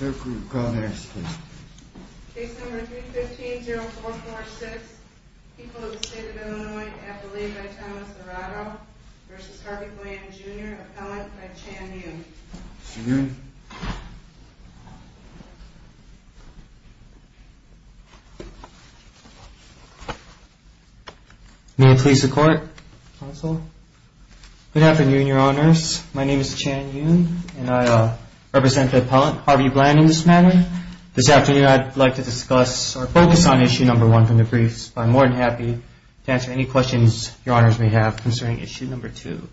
315-0446, People of the State of Illinois, appellee by Thomas Arado, v. Harvey Bland Jr., appellant by Chan Yoon. Mr. Yoon. May it please the Court, Counsel. Good afternoon, Your Honors. My name is Chan Yoon, and I represent the appellant, Harvey Bland, in this matter. This afternoon I'd like to discuss or focus on Issue No. 1 from the briefs, but I'm more than happy to answer any questions Your Honors may have concerning Issue No. 2.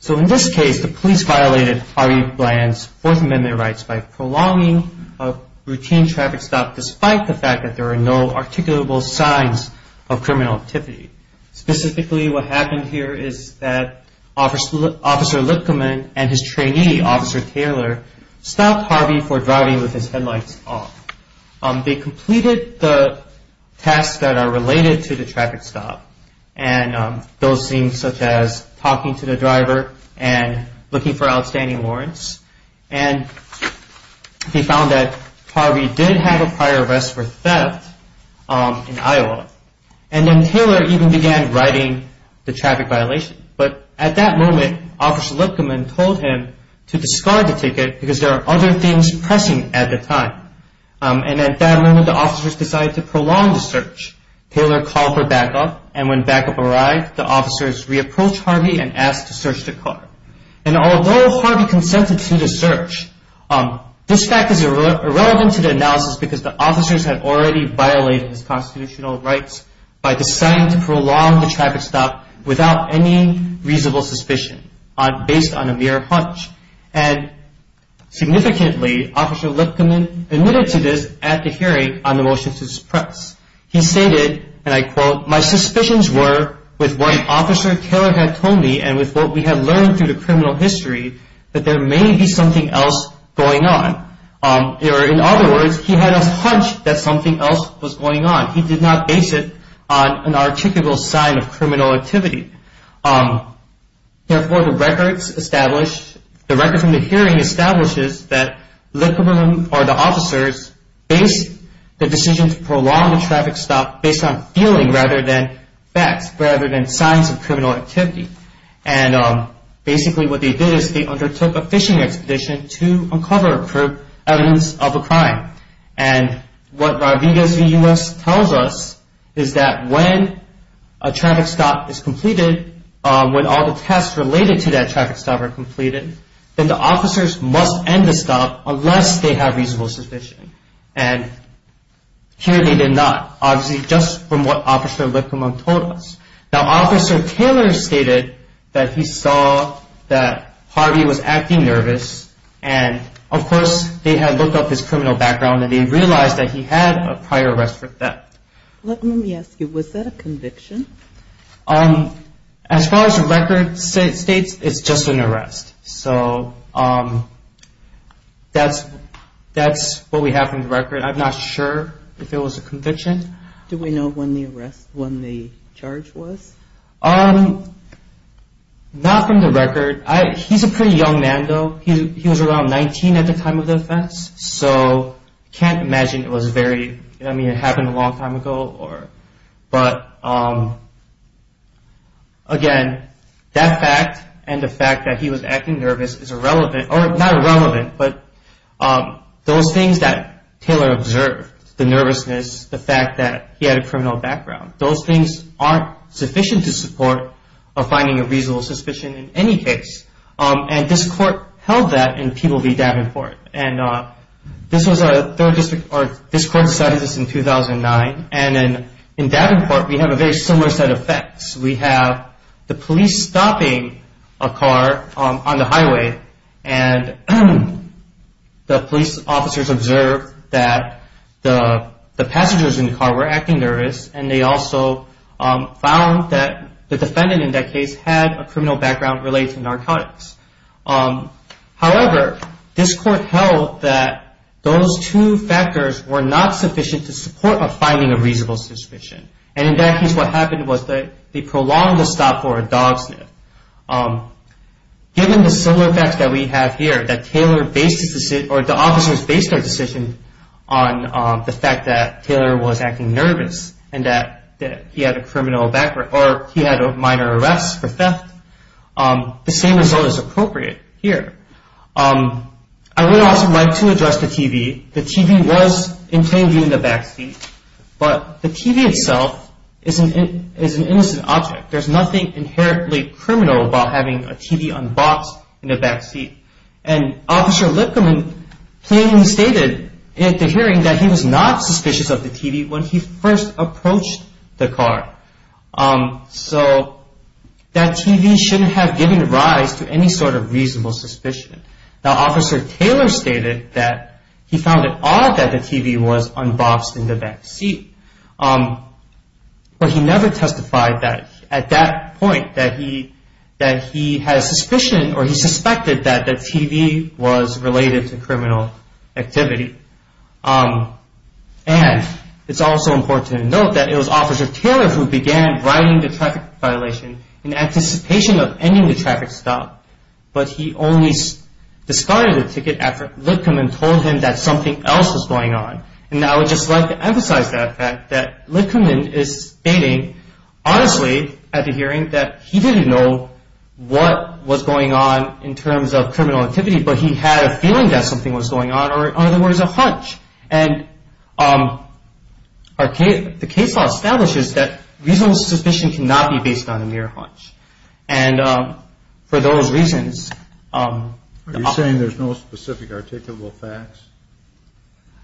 So in this case, the police violated Harvey Bland's Fourth Amendment rights by prolonging a routine traffic stop despite the fact that there are no articulable signs of criminal activity. Specifically, what happened here is that Officer Lipkaman and his trainee, Officer Taylor, stopped Harvey for driving with his headlights off. They completed the tasks that are related to the traffic stop, and those things such as talking to the driver and looking for outstanding warrants. And they found that Harvey did have a prior arrest for theft in Iowa. And then Taylor even began writing the traffic violation. But at that moment, Officer Lipkaman told him to discard the ticket because there are other things pressing at the time. And at that moment, the officers decided to prolong the search. Taylor called for backup, and when backup arrived, the officers re-approached Harvey and asked to search the car. And although Harvey consented to the search, this fact is irrelevant to the analysis because the officers had already violated his constitutional rights by deciding to prolong the traffic stop without any reasonable suspicion based on a mere hunch. And significantly, Officer Lipkaman admitted to this at the hearing on the motion to suppress. He stated, and I quote, My suspicions were with what Officer Taylor had told me and with what we had learned through the criminal history that there may be something else going on. In other words, he had a hunch that something else was going on. He did not base it on an articulable sign of criminal activity. Therefore, the records from the hearing establishes that Lipkaman or the officers based the decision to prolong the traffic stop based on feeling rather than facts, rather than signs of criminal activity. And basically what they did is they undertook a fishing expedition to uncover evidence of a crime. And what Rodriguez v. U.S. tells us is that when a traffic stop is completed, when all the tests related to that traffic stop are completed, then the officers must end the stop unless they have reasonable suspicion. And here they did not, obviously just from what Officer Lipkaman told us. Now, Officer Taylor stated that he saw that Harvey was acting nervous and of course they had looked up his criminal background and they realized that he had a prior arrest for theft. Let me ask you, was that a conviction? As far as the record states, it's just an arrest. So that's what we have from the record. I'm not sure if it was a conviction. Do we know when the arrest, when the charge was? Not from the record. He's a pretty young man, though. He was around 19 at the time of the offense. So I can't imagine it was very, I mean, it happened a long time ago. But again, that fact and the fact that he was acting nervous is irrelevant, or not irrelevant, but those things that Taylor observed, the nervousness, the fact that he had a criminal background, those things aren't sufficient to support a finding of reasonable suspicion in any case. And this court held that in Peel v. Davenport. And this was a third district, or this court decided this in 2009. And in Davenport, we have a very similar set of facts. We have the police stopping a car on the highway and the police officers observed that the passengers in the car were acting nervous and they also found that the defendant in that case had a criminal background related to narcotics. However, this court held that those two factors were not sufficient to support a finding of reasonable suspicion. And in that case, what happened was they prolonged the stop for a dog sniff. Given the similar facts that we have here, that the officers based their decision on the fact that Taylor was acting nervous and that he had a minor arrest for theft, the same result is appropriate here. I would also like to address the TV. The TV was intended in the backseat, but the TV itself is an innocent object. There's nothing inherently criminal about having a TV unboxed in the backseat. And Officer Lipkerman plainly stated at the hearing that he was not suspicious of the TV when he first approached the car. So that TV shouldn't have given rise to any sort of reasonable suspicion. Now, Officer Taylor stated that he found it odd that the TV was unboxed in the backseat. But he never testified at that point that he had suspicion or he suspected that the TV was related to criminal activity. And it's also important to note that it was Officer Taylor who began writing the traffic violation in anticipation of ending the traffic stop. But he only discarded the ticket after Lipkerman told him that something else was going on. And I would just like to emphasize that fact, that Lipkerman is stating honestly at the hearing that he didn't know what was going on in terms of criminal activity, but he had a feeling that something was going on, or in other words, a hunch. And the case law establishes that reasonable suspicion cannot be based on a mere hunch. And for those reasons— Are you saying there's no specific articulable facts?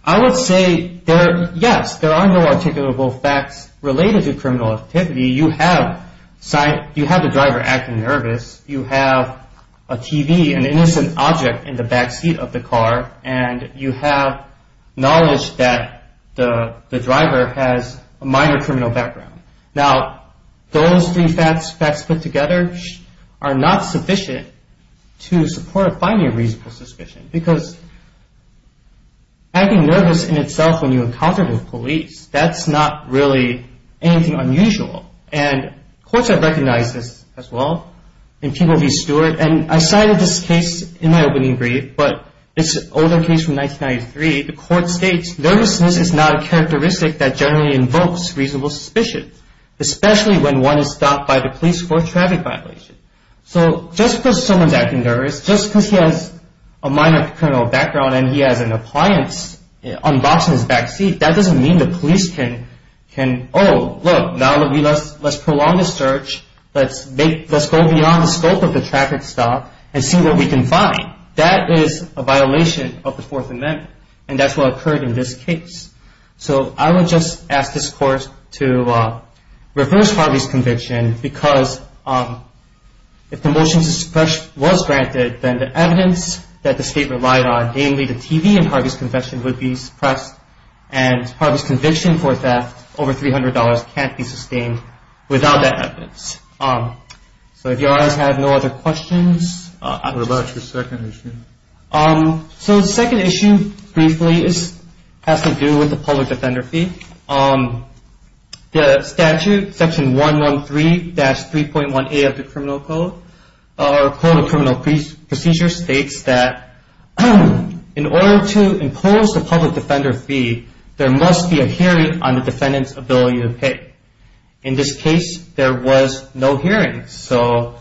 I would say, yes, there are no articulable facts related to criminal activity. You have the driver acting nervous. You have a TV, an innocent object, in the backseat of the car. And you have knowledge that the driver has a minor criminal background. Now, those three facts put together are not sufficient to support a finding of reasonable suspicion. Because acting nervous in itself when you encounter the police, that's not really anything unusual. And courts have recognized this as well. And people be steward. And I cited this case in my opening brief, but it's an older case from 1993. The court states, Nervousness is not a characteristic that generally invokes reasonable suspicion, especially when one is stopped by the police for a traffic violation. So just because someone's acting nervous, just because he has a minor criminal background and he has an appliance unboxed in his backseat, that doesn't mean the police can, Oh, look, now let's prolong the search. Let's go beyond the scope of the traffic stop and see what we can find. That is a violation of the Fourth Amendment. And that's what occurred in this case. So I would just ask this court to reverse Harvey's conviction, because if the motion to suppress was granted, then the evidence that the state relied on, namely the TV and Harvey's confession, would be suppressed. And Harvey's conviction for theft over $300 can't be sustained without that evidence. So if you all have no other questions. What about your second issue? So the second issue, briefly, has to do with the public defender fee. The statute, Section 113-3.1a of the Criminal Code, or Code of Criminal Procedures, states that in order to impose the public defender fee, there must be a hearing on the defendant's ability to pay. In this case, there was no hearing. So,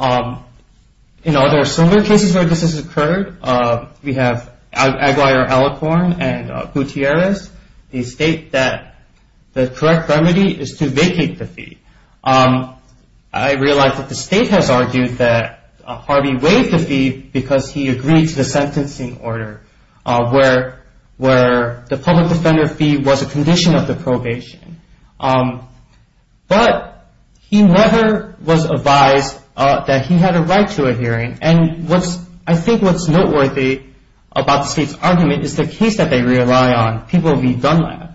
you know, there are similar cases where this has occurred. We have Aguiar, Alicorn, and Gutierrez. They state that the correct remedy is to vacate the fee. I realize that the state has argued that Harvey waived the fee because he agreed to the sentencing order, where the public defender fee was a condition of the probation. But he never was advised that he had a right to a hearing. And I think what's noteworthy about the state's argument is the case that they rely on, people via Dunlap.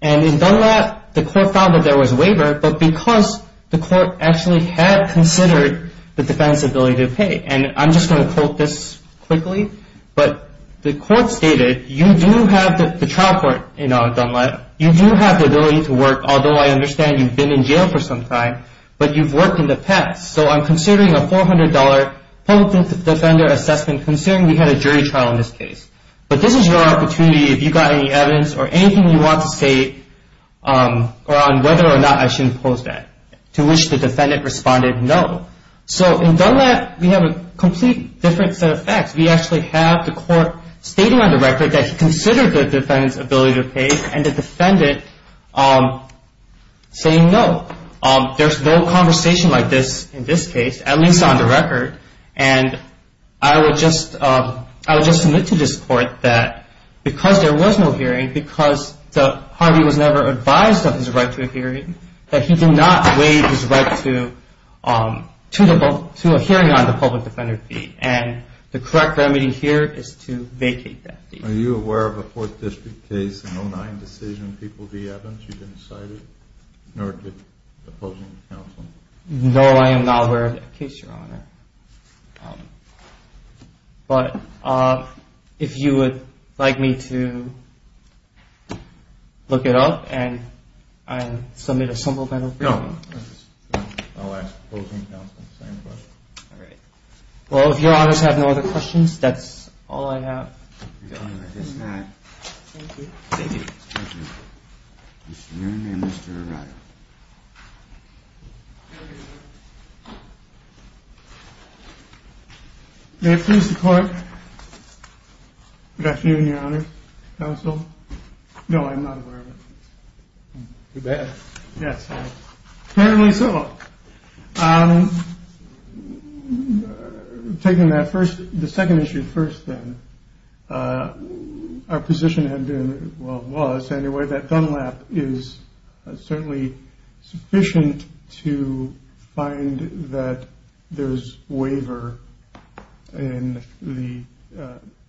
And in Dunlap, the court found that there was a waiver, but because the court actually had considered the defendant's ability to pay. And I'm just going to quote this quickly. But the court stated, you do have the trial court in Dunlap, you do have the ability to work, although I understand you've been in jail for some time, but you've worked in the past. So I'm considering a $400 public defender assessment, considering we had a jury trial in this case. But this is your opportunity, if you've got any evidence or anything you want to say, on whether or not I should impose that. To which the defendant responded, no. So in Dunlap, we have a complete different set of facts. We actually have the court stating on the record that he considered the defendant's ability to pay, and the defendant saying no. There's no conversation like this in this case, at least on the record. And I would just submit to this court that because there was no hearing, because Harvey was never advised of his right to a hearing, that he did not waive his right to a hearing on the public defender fee. And the correct remedy here is to vacate that fee. Are you aware of a Fourth District case in 09 decision, people v. Evans? You didn't cite it? Nor did opposing counsel? No, I am not aware of that case, Your Honor. But if you would like me to look it up and submit a simple memo for you. No, I'll ask opposing counsel the same question. All right. Well, if Your Honors have no other questions, that's all I have. I guess not. Thank you. Thank you. Thank you. Mr. Nguyen and Mr. Arado. May it please the court. Good afternoon, Your Honor, counsel. No, I'm not aware of it. You bet. Yes, I am. Apparently so. Taking that first, the second issue first, then, our position had been, well, was, anyway, that gun lap is certainly sufficient to find that there is waiver in the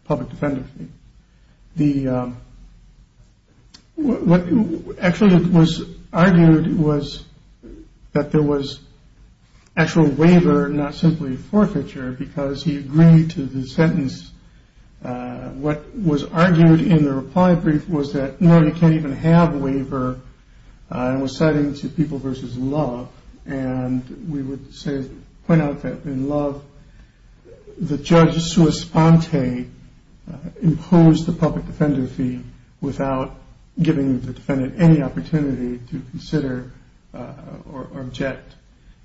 public defender fee. What actually was argued was that there was actual waiver, not simply forfeiture, because he agreed to the sentence. What was argued in the reply brief was that, no, you can't even have waiver. It was citing to people versus love. And we would say, point out that in love, the judge sua sponte imposed the public defender fee without giving the defendant any opportunity to consider or object.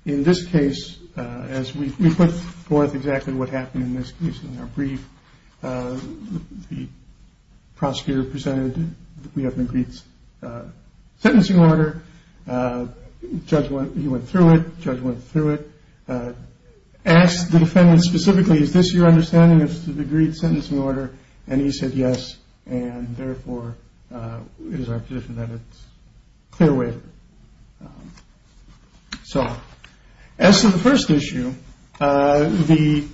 In this case, as we put forth exactly what happened in this case in our brief, the prosecutor presented that we have an agreed sentencing order. Judge went through it. Judge went through it. Asked the defendant specifically, is this your understanding of the agreed sentencing order? And he said yes. And therefore, it is our position that it's clear waiver. So as to the first issue, the.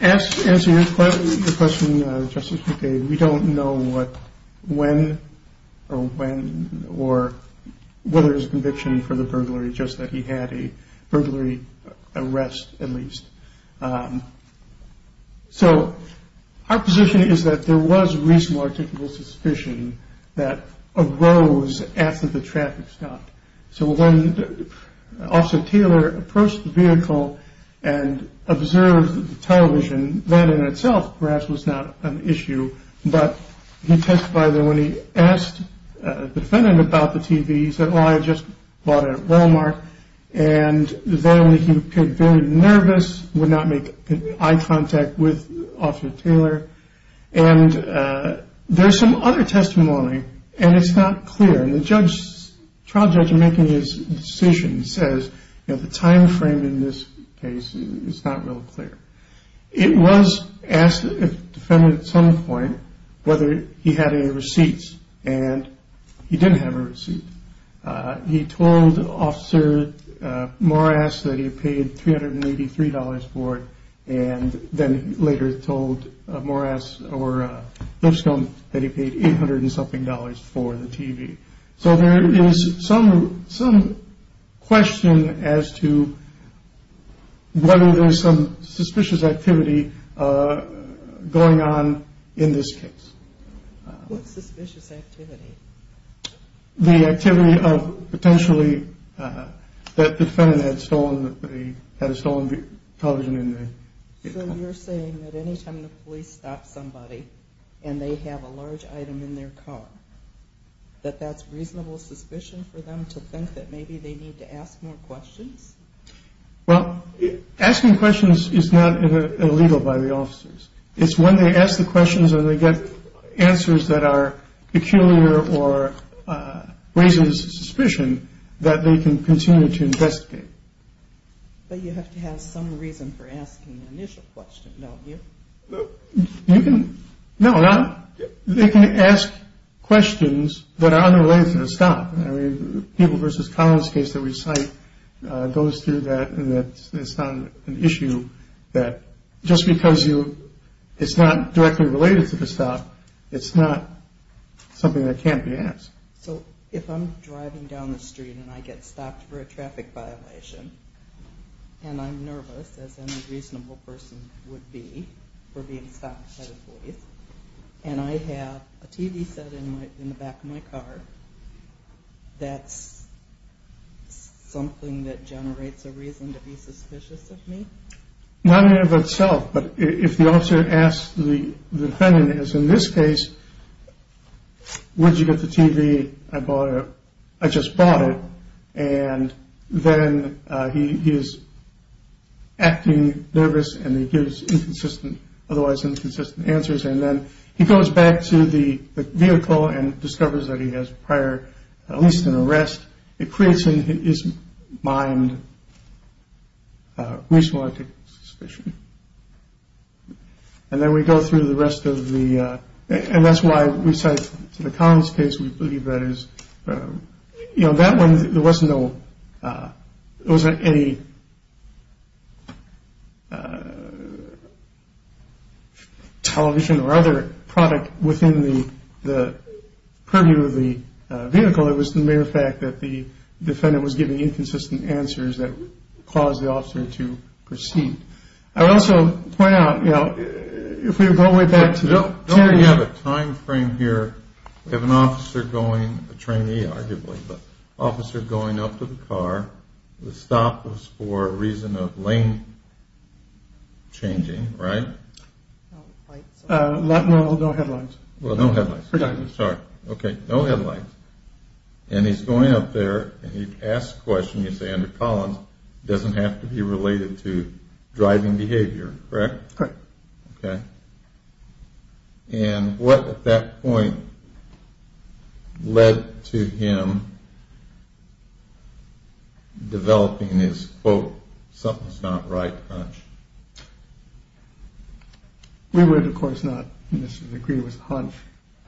As to your question, Justice, we don't know what, when or when or whether it is a conviction for the burglary, just that he had a burglary arrest, at least. So our position is that there was reasonable or typical suspicion that arose after the traffic stopped. So when Officer Taylor approached the vehicle and observed the television, that in itself perhaps was not an issue. But he testified that when he asked the defendant about the TV, he said, well, I just bought it at Wal-Mart. And then he appeared very nervous, would not make eye contact with Officer Taylor. And there's some other testimony. And it's not clear. And the judge, the trial judge, in making his decision says, you know, the time frame in this case is not real clear. It was asked the defendant at some point whether he had any receipts. And he didn't have a receipt. He told Officer Morris that he paid three hundred and eighty three dollars for it. And then later told Morris or Lipscomb that he paid eight hundred and something dollars for the TV. So there is some some question as to whether there's some suspicious activity going on in this case. What suspicious activity? The activity of potentially that the defendant had stolen the television in the vehicle. So you're saying that any time the police stop somebody and they have a large item in their car, that that's reasonable suspicion for them to think that maybe they need to ask more questions? Well, asking questions is not illegal by the officers. It's when they ask the questions and they get answers that are peculiar or raises suspicion that they can continue to investigate. But you have to have some reason for asking the initial question, don't you? You can. No, they can ask questions that are unrelated to the stop. People versus Collins case that we cite goes through that. It's not an issue that just because it's not directly related to the stop, it's not something that can't be asked. So if I'm driving down the street and I get stopped for a traffic violation and I'm nervous, as any reasonable person would be for being stopped by the police and I have a TV set in the back of my car, that's something that generates a reason to be suspicious of me? Not in and of itself. But if the officer asks the defendant, as in this case, where did you get the TV? I bought it. I just bought it. And then he is acting nervous and he gives inconsistent, otherwise inconsistent answers. And then he goes back to the vehicle and discovers that he has prior at least an arrest. It creates in his mind reasonable suspicion. And then we go through the rest of the and that's why we cite to the Collins case. We believe that is, you know, that one, there wasn't any television or other product within the purview of the vehicle. It was the mere fact that the defendant was giving inconsistent answers that caused the officer to proceed. I would also point out, you know, if we go way back to the training. Don't we have a time frame here? We have an officer going, a trainee arguably, but an officer going up to the car. The stop was for a reason of lane changing, right? No, no headlines. Well, no headlines. Sorry. Okay. No headlines. And he's going up there and he asks a question, you say under Collins, doesn't have to be related to driving behavior, correct? Correct. Okay. And what at that point led to him developing his, quote, something's not right hunch? We would, of course, not agree with hunch.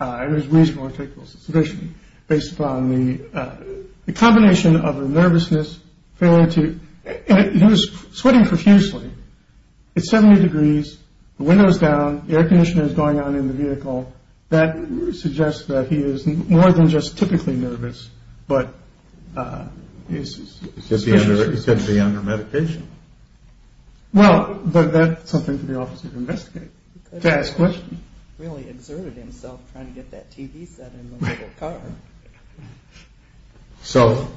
It was reasonable to take suspicion based upon the combination of a nervousness failure to sweating profusely. It's 70 degrees windows down. The air conditioner is going on in the vehicle. That suggests that he is more than just typically nervous. But he's going to be under medication. Well, that's something for the officer to investigate, to ask questions. Really exerted himself trying to get that TV set in the little car. So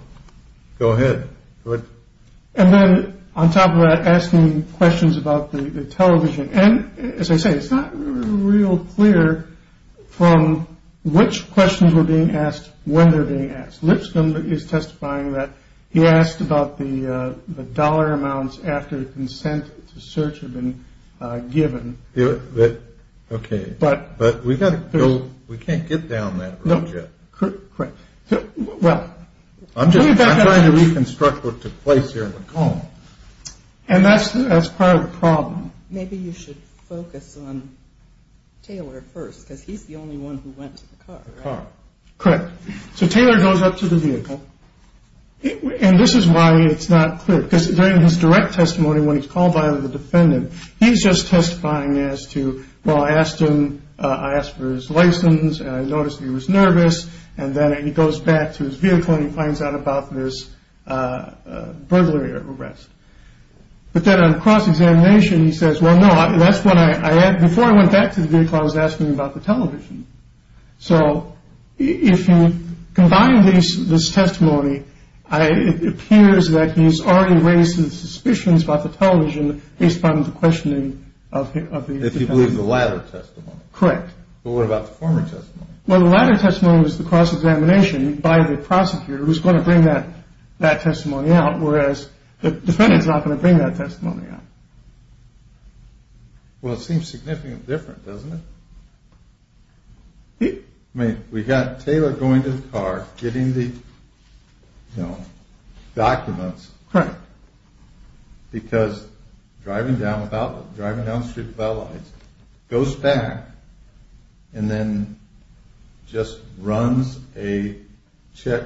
go ahead. And then on top of that, asking questions about the television. And as I say, it's not real clear from which questions were being asked when they're being asked. Lipscomb is testifying that he asked about the dollar amounts after consent to search have been given. Okay. But we got to go. We can't get down that. Correct. Well, I'm trying to reconstruct what took place here. And that's as part of the problem. Maybe you should focus on Taylor first, because he's the only one who went to the car. Correct. So Taylor goes up to the vehicle. And this is why it's not clear, because during his direct testimony, when he's called by the defendant, he's just testifying as to. Well, I asked him. I asked for his license. I noticed he was nervous. And then he goes back to his vehicle and he finds out about this burglary arrest. But then on cross-examination, he says, well, no, that's what I had before I went back to the vehicle. I was asking about the television. So if you combine these this testimony, it appears that he's already raised his suspicions about the television. Based on the questioning of the people in the latter. Correct. But what about the former testimony? Well, the latter testimony is the cross-examination by the prosecutor. He's going to bring that testimony out, whereas the defendant is not going to bring that testimony out. Well, it seems significantly different, doesn't it? I mean, we've got Taylor going to the car, getting the documents. Correct. Because driving down about driving down the street goes back and then just runs a check.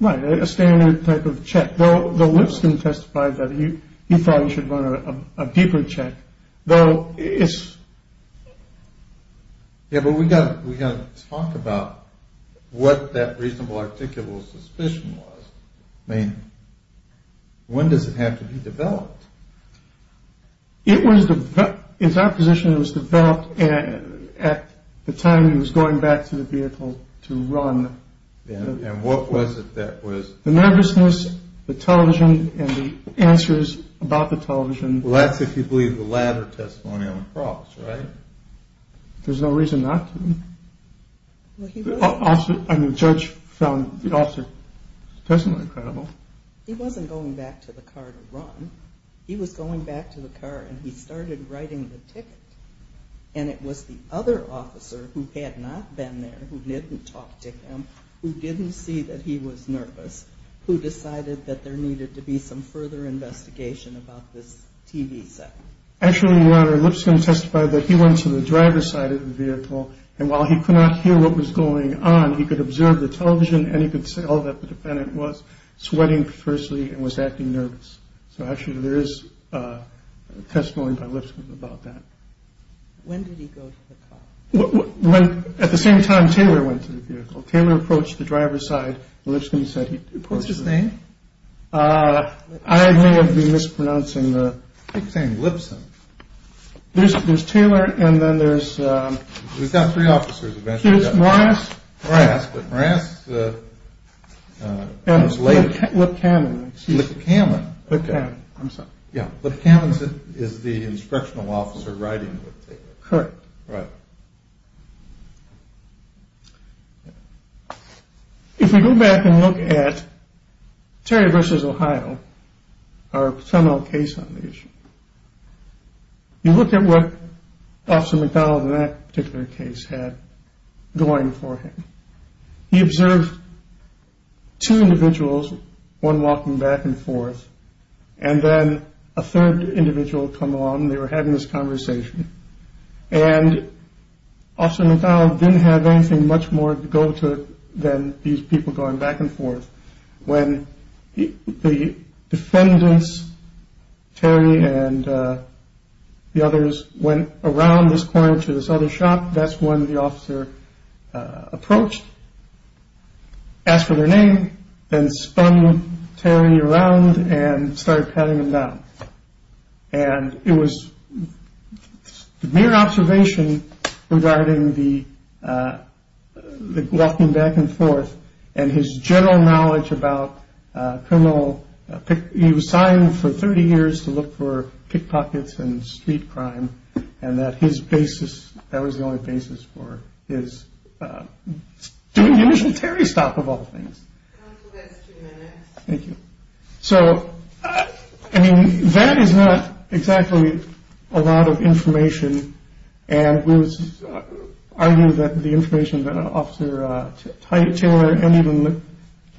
Right. A standard type of check. Well, the Lipson testified that he thought he should run a deeper check, though. Yeah, but we got we got to talk about what that reasonable articulable suspicion was. I mean, when does it have to be developed? It was developed. It's our position it was developed at the time he was going back to the vehicle to run. And what was it that was? The nervousness, the television and the answers about the television. Well, that's if you believe the latter testimony on the cross, right? There's no reason not to. I mean, the judge found the officer's testimony credible. He wasn't going back to the car to run. He was going back to the car and he started writing the ticket. And it was the other officer who had not been there, who didn't talk to him, who didn't see that he was nervous, who decided that there needed to be some further investigation about this TV set. Actually, Lipson testified that he went to the driver's side of the vehicle and while he could not hear what was going on, he could observe the television and he could say all that the defendant was sweating firstly and was acting nervous. So actually, there is a testimony by Lipson about that. When did he go to the car? When at the same time Taylor went to the vehicle, Taylor approached the driver's side. Lipson said he approached his name. I may have been mispronouncing the name Lipson. There's Taylor and then there's three officers. There's Morass. Morass, but Morass was later. Lipkaman. Lipkaman. I'm sorry. Yeah. Lipkaman is the instructional officer writing the ticket. Correct. Right. If we go back and look at Terry versus Ohio, our criminal case on the issue, you look at what Officer McDonald in that particular case had going for him. He observed two individuals, one walking back and forth, and then a third individual come along. They were having this conversation. And Officer McDonald didn't have anything much more to go to than these people going back and forth. When the defendants, Terry and the others, went around this corner to this other shop, that's when the officer approached, asked for their name, then spun Terry around and started patting him down. And it was mere observation regarding the walking back and forth and his general knowledge about criminal. He was signed for 30 years to look for pickpockets and street crime. And that his basis, that was the only basis for his doing the initial Terry stop of all things. Thank you. So, I mean, that is not exactly a lot of information. And we would argue that the information that Officer Taylor and even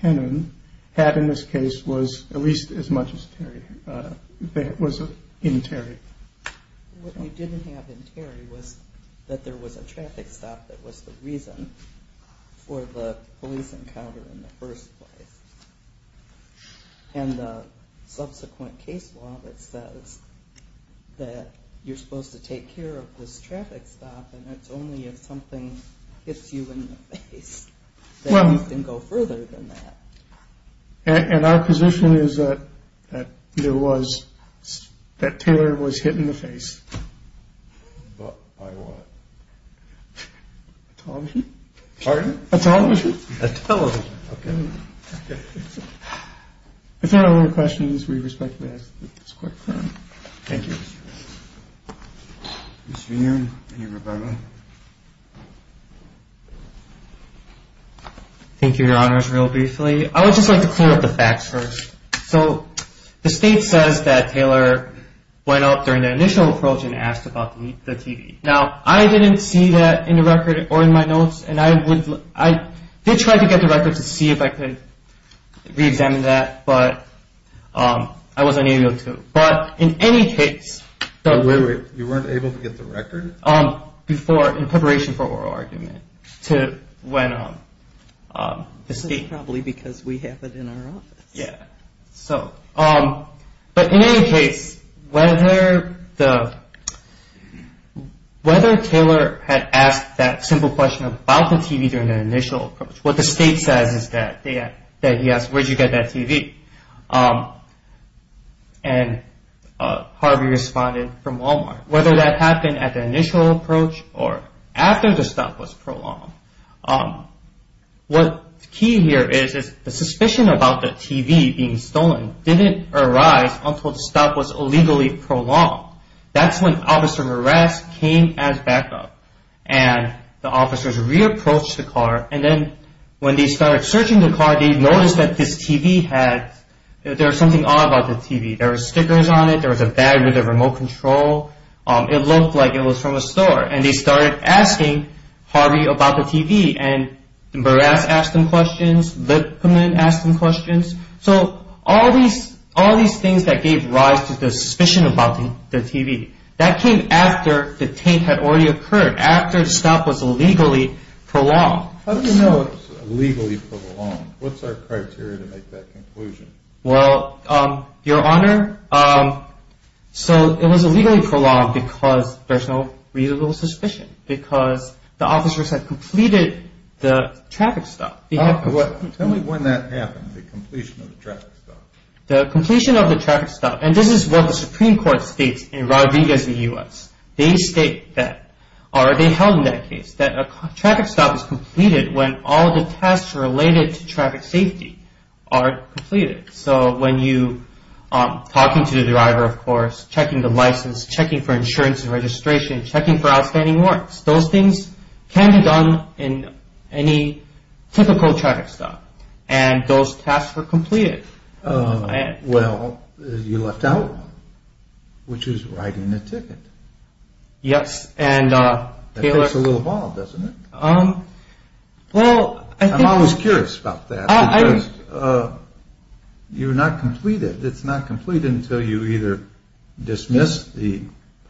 Lipkaman had in this case was at least as much as Terry. It was in Terry. What you didn't have in Terry was that there was a traffic stop that was the reason for the police encounter in the first place. And the subsequent case law that says that you're supposed to take care of this traffic stop and it's only if something hits you in the face that you can go further than that. And our position is that there was, that Taylor was hit in the face. By what? A television. Pardon? A television. A television, okay. If there are no other questions, we respectfully ask that this court adjourn. Thank you. Mr. Nguyen, do you have a comment? Thank you, Your Honors. Just real briefly, I would just like to clear up the facts first. So, the state says that Taylor went up during the initial approach and asked about the TV. Now, I didn't see that in the record or in my notes, and I did try to get the record to see if I could re-examine that, but I wasn't able to. But in any case. You weren't able to get the record? In preparation for oral argument. Probably because we have it in our office. Yeah. But in any case, whether Taylor had asked that simple question about the TV during the initial approach, what the state says is that he asked, where did you get that TV? And Harvey responded from Walmart. Whether that happened at the initial approach or after the stop was prolonged. What's key here is the suspicion about the TV being stolen didn't arise until the stop was illegally prolonged. That's when officer's arrest came as backup. And the officers re-approached the car, and then when they started searching the car, they noticed that this TV had, there was something odd about the TV. There were stickers on it. There was a bag with a remote control. It looked like it was from a store. And they started asking Harvey about the TV. And Burrass asked him questions. Lipman asked him questions. So all these things that gave rise to the suspicion about the TV, that came after the taint had already occurred. After the stop was illegally prolonged. How do you know it's illegally prolonged? What's our criteria to make that conclusion? Well, Your Honor, so it was illegally prolonged because there's no reasonable suspicion. Because the officers had completed the traffic stop. Tell me when that happened, the completion of the traffic stop. The completion of the traffic stop. And this is what the Supreme Court states in Rodriguez v. U.S. They state that, or they held in that case, that a traffic stop is completed when all the tasks related to traffic safety are completed. So when you, talking to the driver, of course, checking the license, checking for insurance and registration, checking for outstanding warrants. Those things can be done in any typical traffic stop. And those tasks were completed. Well, you left out one. Which is writing a ticket. Yes. That takes a little while, doesn't it? I'm always curious about that. Because you're not completed. It's not completed until you either dismiss the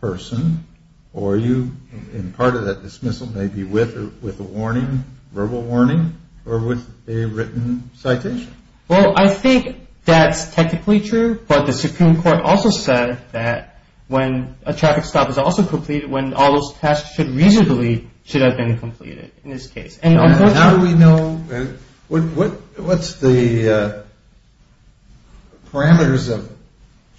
person or you, and part of that dismissal may be with a warning, verbal warning, or with a written citation. Well, I think that's technically true. But the Supreme Court also said that when a traffic stop is also completed, when all those tasks should reasonably should have been completed in this case. How do we know? What's the parameters of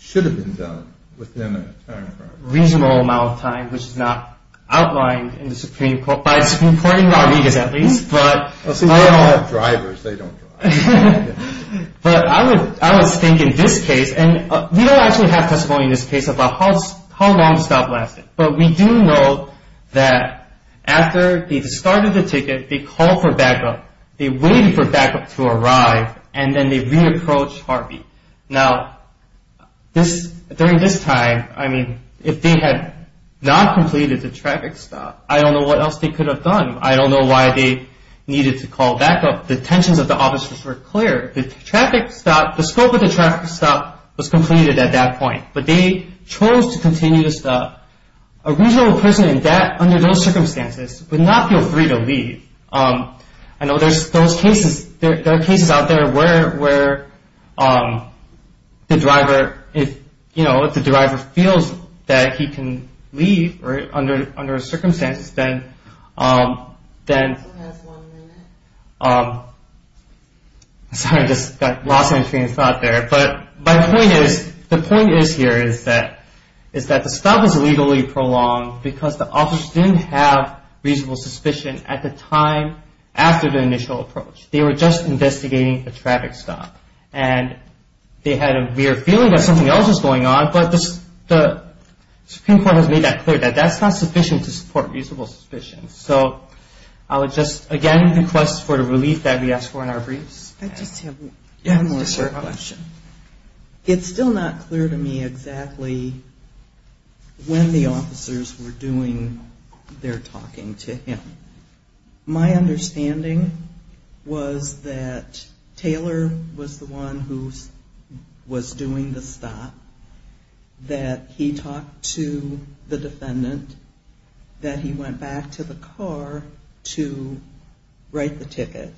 should have been done within a time frame? Reasonable amount of time, which is not outlined in the Supreme Court. By the Supreme Court in Rodriguez, at least. They don't have drivers. They don't drive. But I was thinking this case. We don't actually have testimony in this case about how long the stop lasted. But we do know that after they started the ticket, they called for backup. They waited for backup to arrive, and then they re-approached heartbeat. Now, during this time, if they had not completed the traffic stop, I don't know what else they could have done. I don't know why they needed to call backup. The tensions of the officers were clear. The scope of the traffic stop was completed at that point. But they chose to continue the stop. A reasonable person under those circumstances would not feel free to leave. I know there are cases out there where the driver feels that he can leave under those circumstances. The point is here that the stop was legally prolonged because the officers didn't have reasonable suspicion at the time after the initial approach. They were just investigating the traffic stop. They had a weird feeling that something else was going on, but the Supreme Court has made that clear. That's not sufficient to support reasonable suspicion. So I would just again request for the relief that we asked for in our briefs. I just have one more short question. It's still not clear to me exactly when the officers were doing their talking to him. My understanding was that Taylor was the one who was doing the stop. That he talked to the defendant. That he went back to the car to write the ticket.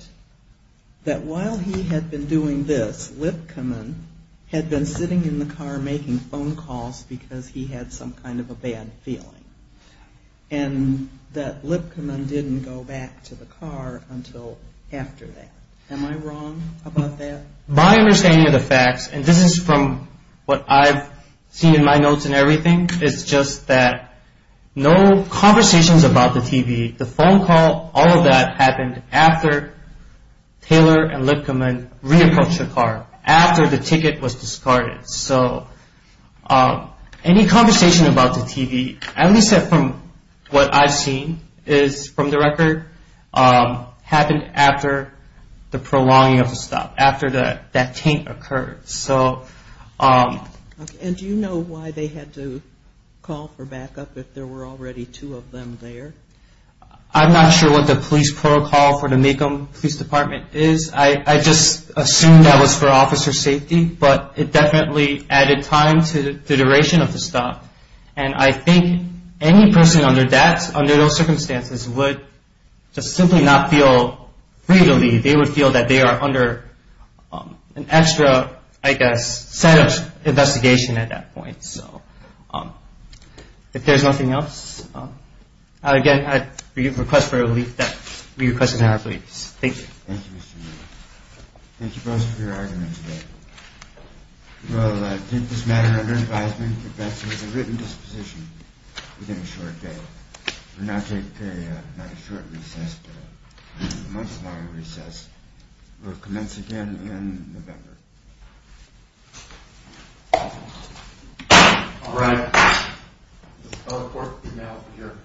That while he had been doing this, Lipkaman had been sitting in the car making phone calls because he had some kind of a bad feeling. And that Lipkaman didn't go back to the car until after that. Am I wrong about that? My understanding of the facts, and this is from what I've seen in my notes and everything, is just that no conversations about the TV. The phone call, all of that happened after Taylor and Lipkaman re-approached the car. After the ticket was discarded. So any conversation about the TV, at least from what I've seen, is from the record happened after the prolonging of the stop. After that taint occurred. And do you know why they had to call for backup if there were already two of them there? I'm not sure what the police protocol for the Maycomb Police Department is. I just assumed that was for officer safety. But it definitely added time to the duration of the stop. And I think any person under those circumstances would just simply not feel free to leave. They would feel that they are under an extra, I guess, set of investigation at that point. If there's nothing else, again, I request for your leave. Thank you. Thank you, Mr. Neal. Thank you both for your argument today. We'll take this matter under advisement and get back to you with a written disposition within a short day. We'll now take a, not a short recess, but a much longer recess. We'll commence again in November. All right. The court is now adjourned.